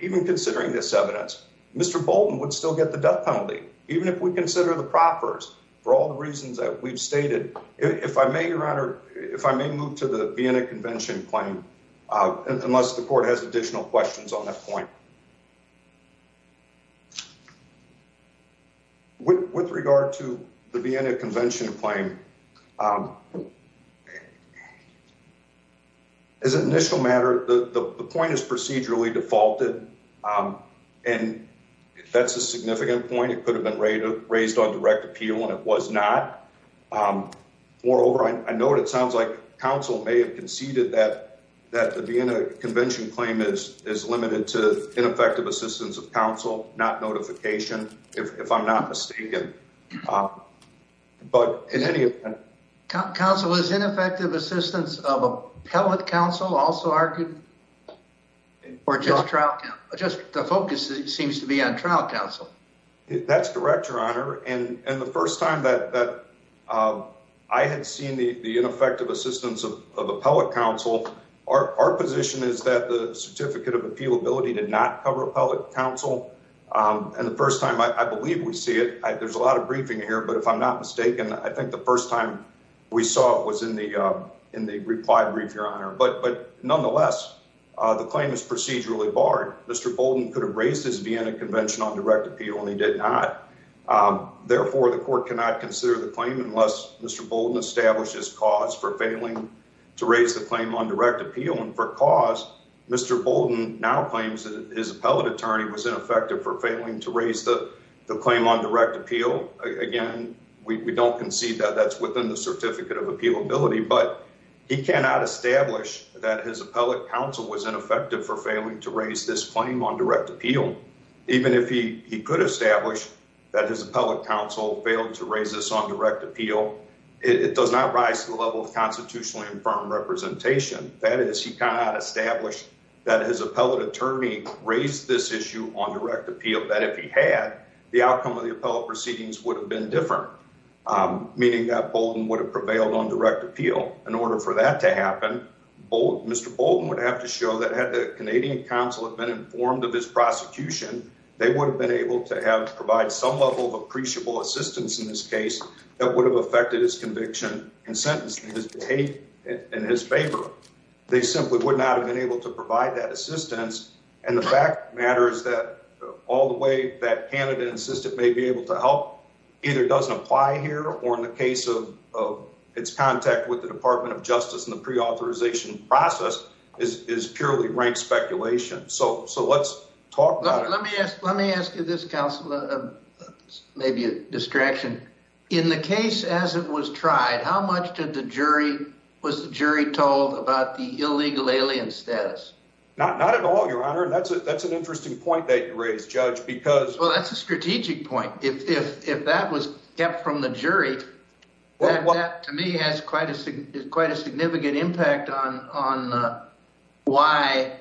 Even considering this evidence, Mr. Bolden would still get the death penalty, even if we consider the proffers for all the reasons that we've stated. If I may, your honor, if I may move to the Vienna Convention claim, unless the court has additional questions on that point. With regard to the Vienna Convention claim. As an initial matter, the point is procedurally defaulted, and that's a significant point. It could have been raised on direct appeal, and it was not. Moreover, I know what it sounds like. Counsel may have conceded that that the Vienna Convention claim is is limited to ineffective assistance of counsel, not notification. If I'm not mistaken. But in any council is ineffective assistance of appellate counsel also argued. Or just trial, just the focus seems to be on trial counsel. That's correct, your honor. And the 1st time that I had seen the ineffective assistance of appellate counsel, our position is that the certificate of appeal ability did not cover appellate counsel. And the 1st time I believe we see it, there's a lot of briefing here. But if I'm not mistaken, I think the 1st time we saw it was in the in the reply brief, your honor. But but nonetheless, the claim is procedurally barred. Mr. Bolden could have raised his Vienna Convention on direct appeal, and he did not. Therefore, the court cannot consider the claim unless Mr. Bolden establishes cause for failing to raise the claim on direct appeal. And for cause, Mr. Bolden now claims that his appellate attorney was ineffective for failing to raise the claim on direct appeal. Again, we don't concede that that's within the certificate of appeal ability, but he cannot establish that his appellate counsel was ineffective for failing to raise this claim on direct appeal. Even if he could establish that his appellate counsel failed to raise this on direct appeal, it does not rise to the level of constitutionally infirm representation. That is, he cannot establish that his appellate attorney raised this issue on direct appeal. That if he had, the outcome of the appellate proceedings would have been different, meaning that Bolden would have prevailed on direct appeal. In order for that to happen, Mr. Bolden would have to show that had the Canadian counsel have been informed of his prosecution, they would have been able to provide some level of appreciable assistance in this case that would have affected his conviction and sentence in his favor. They simply would not have been able to provide that assistance. And the fact of the matter is that all the way that Canada insisted may be able to help either doesn't apply here, or in the case of its contact with the Department of Justice and the preauthorization process is purely rank speculation. So let's talk about it. Let me ask you this, counsel, maybe a distraction. In the case as it was tried, how much did the jury, was the jury told about the illegal alien status? Not at all, Your Honor. And that's an interesting point that you raised, Judge, because... Well, that's a strategic point. If that was kept from the jury, that to me has quite a significant impact on why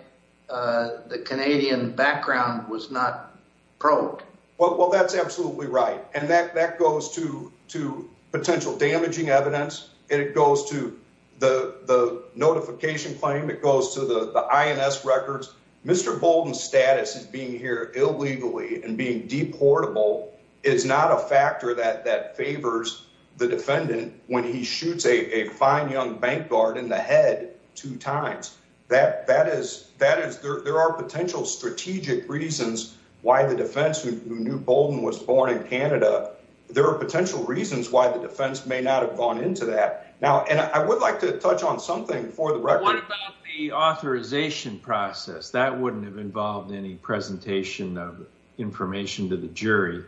the Canadian background was not probed. Well, that's absolutely right. And that goes to potential damaging evidence. And it goes to the notification claim. It goes to the INS records. Mr. Bolden's status as being here illegally and being deportable is not a factor that favors the defendant when he shoots a fine young bank guard in the head two times. That is, that is, there are potential strategic reasons why the defense who knew Bolden was born in Canada, there are potential reasons why the defense may not have gone into that. Now, and I would like to touch on something for the record. What about the authorization process? That wouldn't have involved any presentation of information to the jury.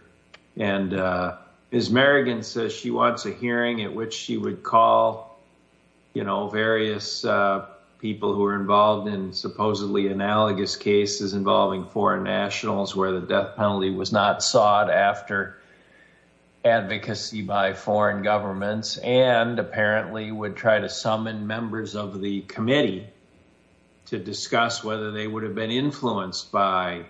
And Ms. Merrigan says she wants a hearing at which she would call, you know, various people who are involved in supposedly analogous cases involving foreign nationals where the death penalty was not sought after advocacy by foreign governments and apparently would try to summon members of the committee to discuss whether they would have been influenced by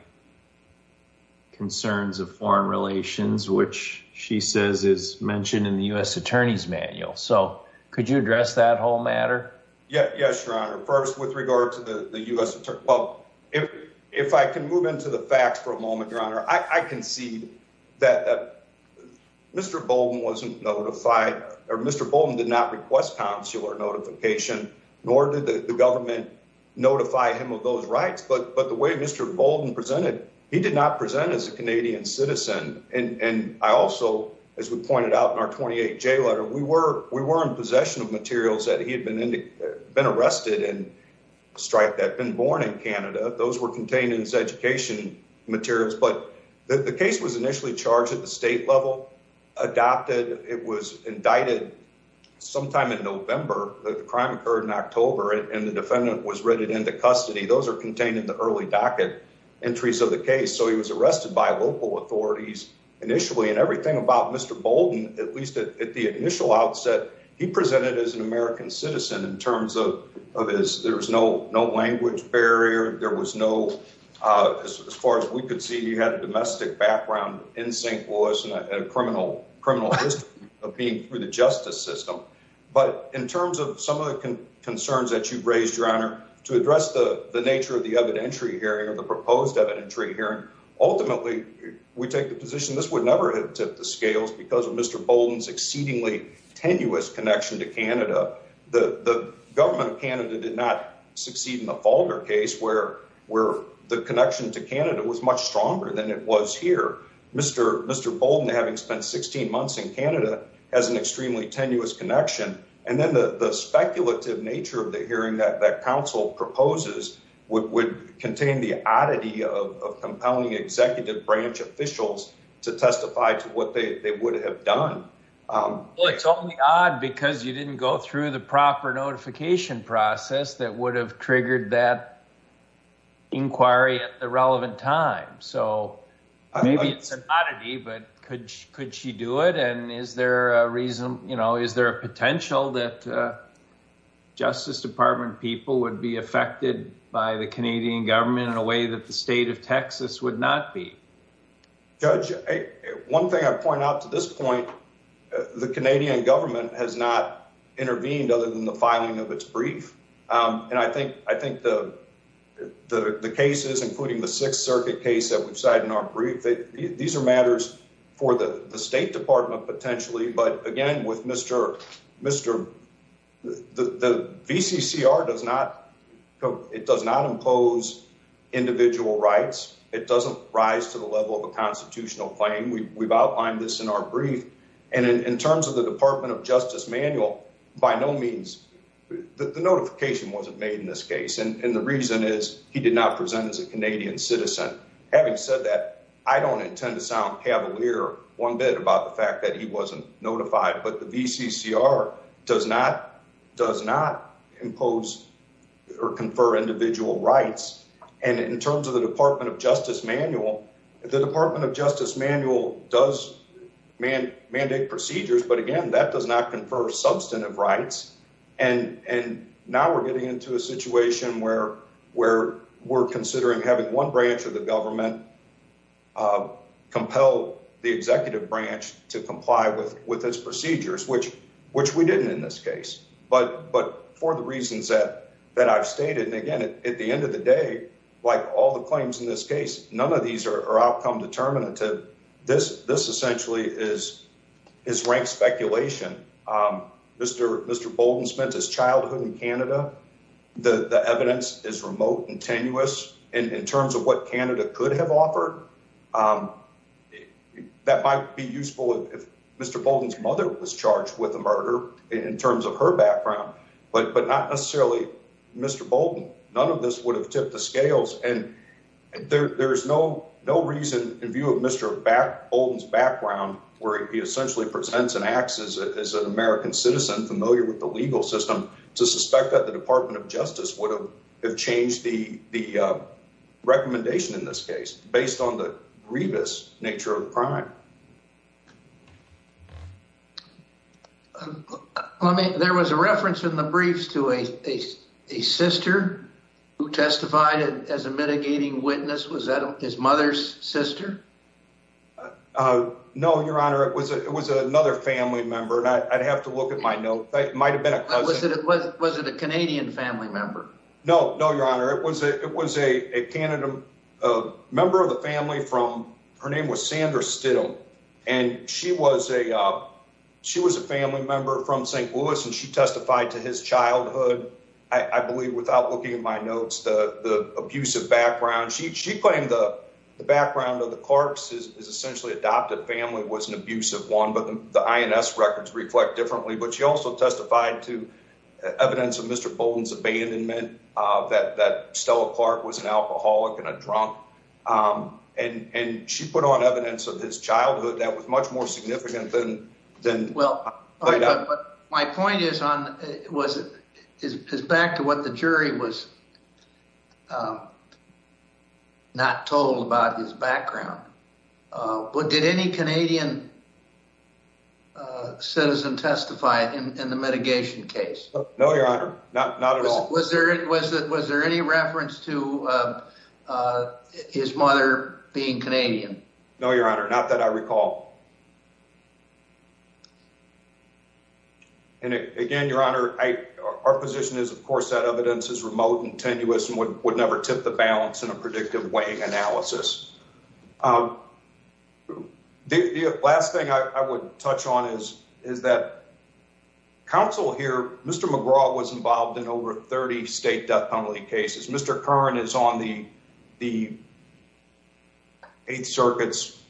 concerns of foreign relations, which she says is mentioned in the U.S. attorney's manual. So could you address that whole matter? Yes, Your Honor. First, with regard to the U.S. If I can move into the facts for a moment, Your Honor, I can see that Mr. Bolden wasn't notified or Mr. Bolden did not request consular notification, nor did the government notify him of those rights. But the way Mr. Bolden presented, he did not present as a Canadian citizen. And I also, as we pointed out in our 28-J letter, we were in possession of materials that he had been arrested and striped that had been born in Canada. Those were contained in his education materials. But the case was initially charged at the state level, adopted. It was indicted sometime in November. The crime occurred in October, and the defendant was written into custody. Those are contained in the early docket entries of the case. So he was arrested by local authorities initially. And everything about Mr. Bolden, at least at the initial outset, he presented as an American citizen in terms of his – there was no language barrier. There was no – as far as we could see, he had a domestic background in St. Louis and a criminal history of being through the justice system. But in terms of some of the concerns that you've raised, Your Honor, to address the nature of the evidentiary hearing or the proposed evidentiary hearing, ultimately we take the position this would never have tipped the scales because of Mr. Bolden's exceedingly tenuous connection to Canada. The government of Canada did not succeed in the Fulger case where the connection to Canada was much stronger than it was here. Mr. Bolden, having spent 16 months in Canada, has an extremely tenuous connection. And then the speculative nature of the hearing that counsel proposes would contain the oddity of compelling executive branch officials to testify to what they would have done. Well, it's only odd because you didn't go through the proper notification process that would have triggered that inquiry at the relevant time. So maybe it's an oddity, but could she do it? And is there a reason – is there a potential that Justice Department people would be affected by the Canadian government in a way that the state of Texas would not be? Judge, one thing I point out to this point, the Canadian government has not intervened other than the filing of its brief. And I think the cases, including the Sixth Circuit case that we've cited in our brief, these are matters for the State Department potentially. But again, with Mr. – the VCCR does not impose individual rights. It doesn't rise to the level of a constitutional claim. We've outlined this in our brief. And in terms of the Department of Justice manual, by no means – the notification wasn't made in this case. And the reason is he did not present as a Canadian citizen. Having said that, I don't intend to sound cavalier one bit about the fact that he wasn't notified. But the VCCR does not impose or confer individual rights. And in terms of the Department of Justice manual, the Department of Justice manual does mandate procedures. But again, that does not confer substantive rights. And now we're getting into a situation where we're considering having one branch of the government compel the executive branch to comply with its procedures, which we didn't in this case. But for the reasons that I've stated, and again, at the end of the day, like all the claims in this case, none of these are outcome determinative. This essentially is rank speculation. Mr. Bolden spent his childhood in Canada. The evidence is remote and tenuous. In terms of what Canada could have offered, that might be useful if Mr. Bolden's mother was charged with a murder in terms of her background, but not necessarily Mr. Bolden. None of this would have tipped the scales. And there is no reason in view of Mr. Bolden's background where he essentially presents and acts as an American citizen familiar with the legal system to suspect that the Department of Justice would have changed the recommendation in this case based on the grievous nature of the crime. There was a reference in the briefs to a sister who testified as a mitigating witness. Was that his mother's sister? No, Your Honor. It was another family member. I'd have to look at my notes. It might have been a cousin. Was it a Canadian family member? No, Your Honor. It was a member of the family. Her name was Sandra Still. And she was a family member from St. Louis, and she testified to his childhood, I believe, without looking at my notes, the abusive background. She claimed the background of the Clarks' essentially adopted family was an abusive one, but the INS records reflect differently. But she also testified to evidence of Mr. Bolden's abandonment, that Stella Clark was an alcoholic and a drunk. And she put on evidence of his childhood that was much more significant than— My point is back to what the jury was not told about his background. Did any Canadian citizen testify in the mitigation case? No, Your Honor. Not at all. Was there any reference to his mother being Canadian? No, Your Honor. Not that I recall. And again, Your Honor, our position is, of course, that evidence is remote and tenuous and would never tip the balance in a predictive weighing analysis. The last thing I would touch on is that counsel here, Mr. McGraw, was involved in over 30 state death penalty cases. Mr. Curran is on the Eighth Circuit's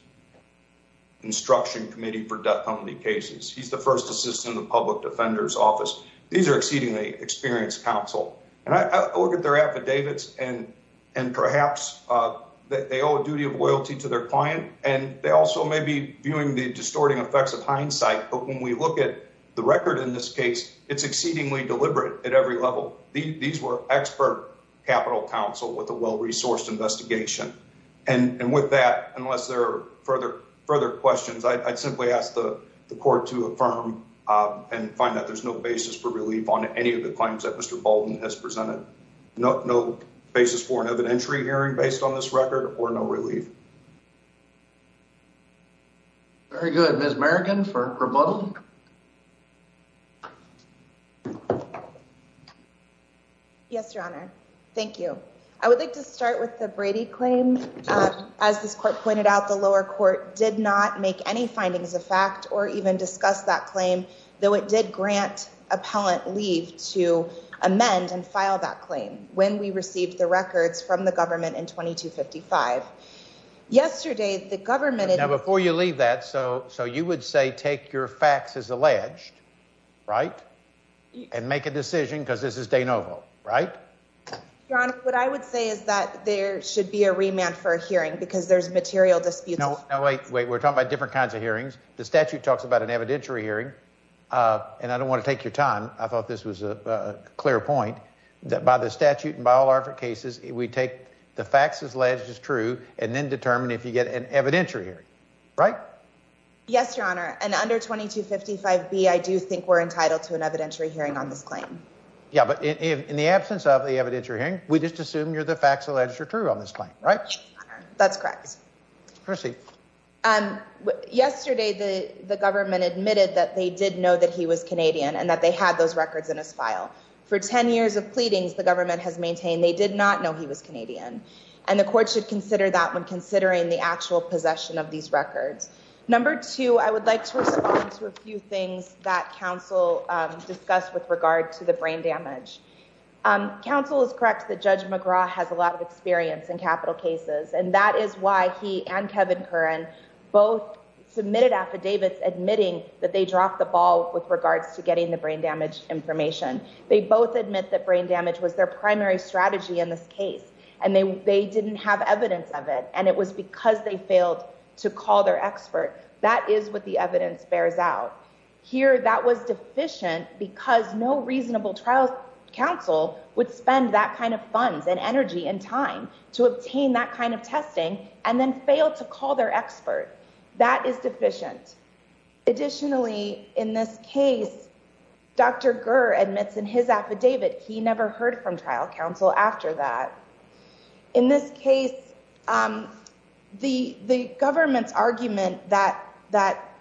Instruction Committee for Death Penalty Cases. He's the first assistant in the public defender's office. These are exceedingly experienced counsel. And I look at their affidavits, and perhaps they owe a duty of loyalty to their client, and they also may be viewing the distorting effects of hindsight. But when we look at the record in this case, it's exceedingly deliberate at every level. These were expert capital counsel with a well-resourced investigation. And with that, unless there are further questions, I'd simply ask the court to affirm and find that there's no basis for relief on any of the claims that Mr. Baldwin has presented. No basis for an evidentiary hearing based on this record or no relief. Very good. Ms. Merrigan for rebuttal. Yes, Your Honor. Thank you. I would like to start with the Brady claim. As this court pointed out, the lower court did not make any findings of fact or even discuss that claim, though it did grant appellant leave to amend and file that claim when we received the records from the government in 2255. Yesterday, the government... Now, before you leave that, so you would say take your facts as alleged, right? And make a decision because this is de novo, right? Your Honor, what I would say is that there should be a remand for a hearing because there's material disputes. No, wait, wait. We're talking about different kinds of hearings. The statute talks about an evidentiary hearing, and I don't want to take your time. I thought this was a clear point that by the statute and by all our cases, we take the facts as alleged is true and then determine if you get an evidentiary hearing, right? Yes, Your Honor. And under 2255B, I do think we're entitled to an evidentiary hearing on this claim. Yeah, but in the absence of the evidentiary hearing, we just assume you're the facts alleged are true on this claim, right? That's correct. Proceed. Yesterday, the government admitted that they did know that he was Canadian and that they had those records in his file. For 10 years of pleadings, the government has maintained they did not know he was Canadian, and the court should consider that when considering the actual possession of these records. Number two, I would like to respond to a few things that counsel discussed with regard to the brain damage. Counsel is correct that Judge McGraw has a lot of experience in capital cases, and that is why he and Kevin Curran both submitted affidavits admitting that they dropped the ball with regards to getting the brain damage information. They both admit that brain damage was their primary strategy in this case, and they didn't have evidence of it, and it was because they failed to call their expert. That is what the evidence bears out. Here, that was deficient because no reasonable trial counsel would spend that kind of funds and energy and time to obtain that kind of testing and then fail to call their expert. That is deficient. Additionally, in this case, Dr. Gurr admits in his affidavit he never heard from trial counsel after that. In this case, the government's argument that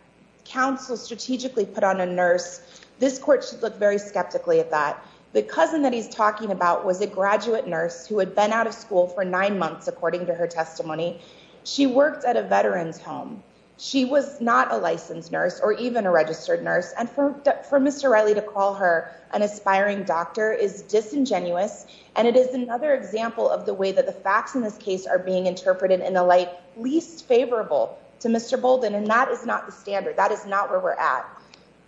counsel strategically put on a nurse, this court should look very skeptically at that. The cousin that he's talking about was a graduate nurse who had been out of school for nine months, according to her testimony. She worked at a veteran's home. She was not a licensed nurse or even a registered nurse, and for Mr. Riley to call her an aspiring doctor is disingenuous. And it is another example of the way that the facts in this case are being interpreted in a light least favorable to Mr. Bolden, and that is not the standard. That is not where we're at.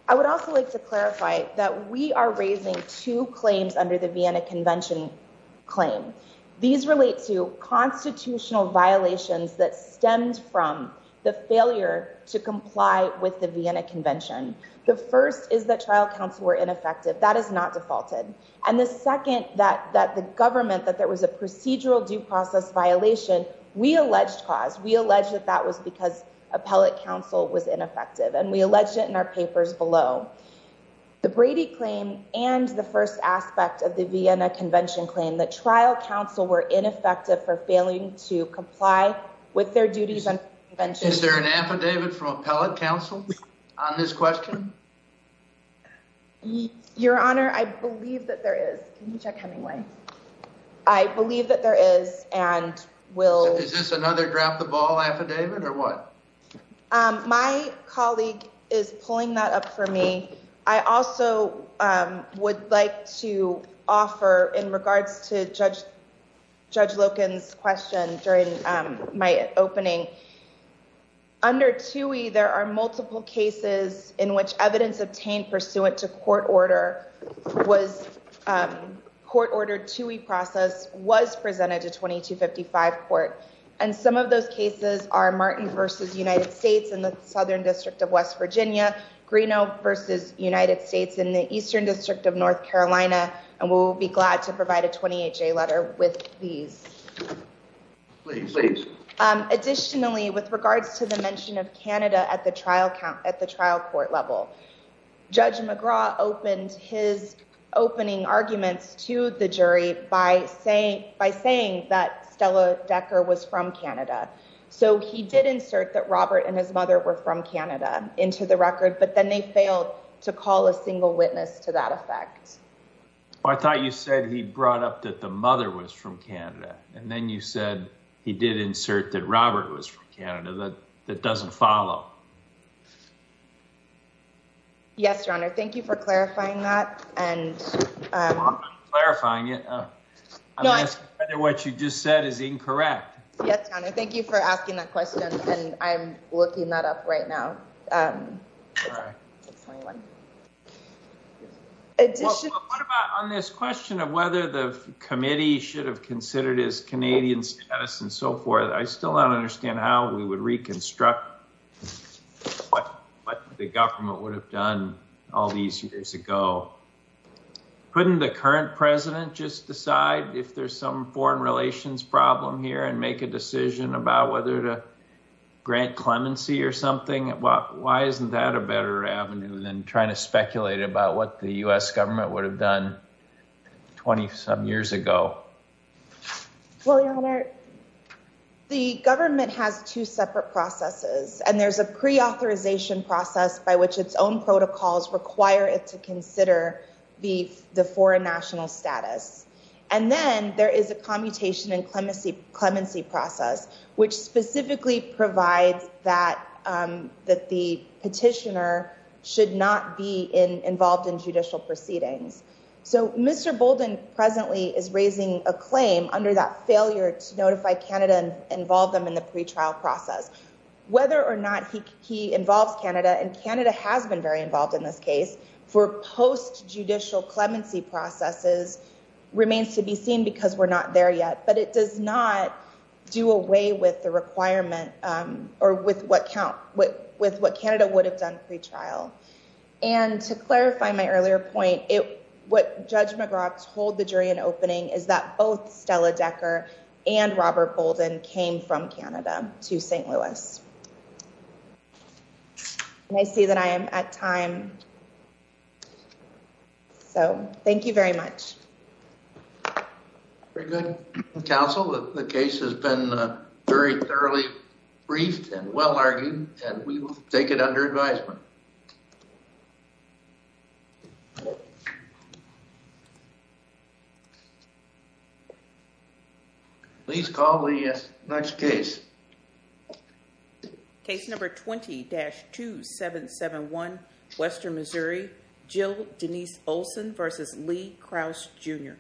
I would also like to clarify that we are raising two claims under the Vienna Convention claim. These relate to constitutional violations that stemmed from the failure to comply with the Vienna Convention. The first is that trial counsel were ineffective. That is not defaulted. And the second, that the government, that there was a procedural due process violation, we alleged cause. We alleged that that was because appellate counsel was ineffective, and we alleged it in our papers below. The Brady claim and the first aspect of the Vienna Convention claim, that trial counsel were ineffective for failing to comply with their duties under the convention. Is there an affidavit from appellate counsel on this question? Your Honor, I believe that there is. Can you check Hemingway? I believe that there is and will. Is this another drop the ball affidavit or what? My colleague is pulling that up for me. I also would like to offer in regards to Judge Loken's question during my opening. Under TUI, there are multiple cases in which evidence obtained pursuant to court order was court-ordered TUI process was presented to 2255 court. And some of those cases are Martin v. United States in the Southern District of West Virginia, Greeno v. United States in the Eastern District of North Carolina. And we'll be glad to provide a 28-J letter with these. Please, please. Additionally, with regards to the mention of Canada at the trial court level, Judge McGraw opened his opening arguments to the jury by saying that Stella Decker was not guilty. So he did insert that Robert and his mother were from Canada into the record. But then they failed to call a single witness to that effect. I thought you said he brought up that the mother was from Canada. And then you said he did insert that Robert was from Canada. That doesn't follow. Yes, Your Honor. Thank you for clarifying that. I'm not clarifying it. I'm asking whether what you just said is incorrect. Yes, Your Honor. Thank you for asking that question. And I'm looking that up right now. What about on this question of whether the committee should have considered his Canadian status and so forth? I still don't understand how we would reconstruct what the government would have done all these years ago. Couldn't the current president just decide if there's some foreign relations problem here and make a decision about whether to grant clemency or something? Why isn't that a better avenue than trying to speculate about what the U.S. government would have done 20-some years ago? Well, Your Honor, the government has two separate processes. And there's a preauthorization process by which its own protocols require it to consider the foreign national status. And then there is a commutation and clemency process, which specifically provides that the petitioner should not be involved in judicial proceedings. So Mr. Bolden presently is raising a claim under that failure to notify Canada and involve them in the pretrial process. Whether or not he involves Canada, and Canada has been very involved in this case, for post-judicial clemency processes remains to be seen because we're not there yet. But it does not do away with the requirement or with what Canada would have done pretrial. And to clarify my earlier point, what Judge McGraw told the jury in opening is that both Stella Decker and Robert Bolden came from Canada to St. Louis. And I see that I am at time. So thank you very much. Very good, counsel. The case has been very thoroughly briefed and well argued, and we will take it under advisement. Please call the next case. Case number 20-2771, Western Missouri, Jill Denise Olson versus Lee Krause Jr.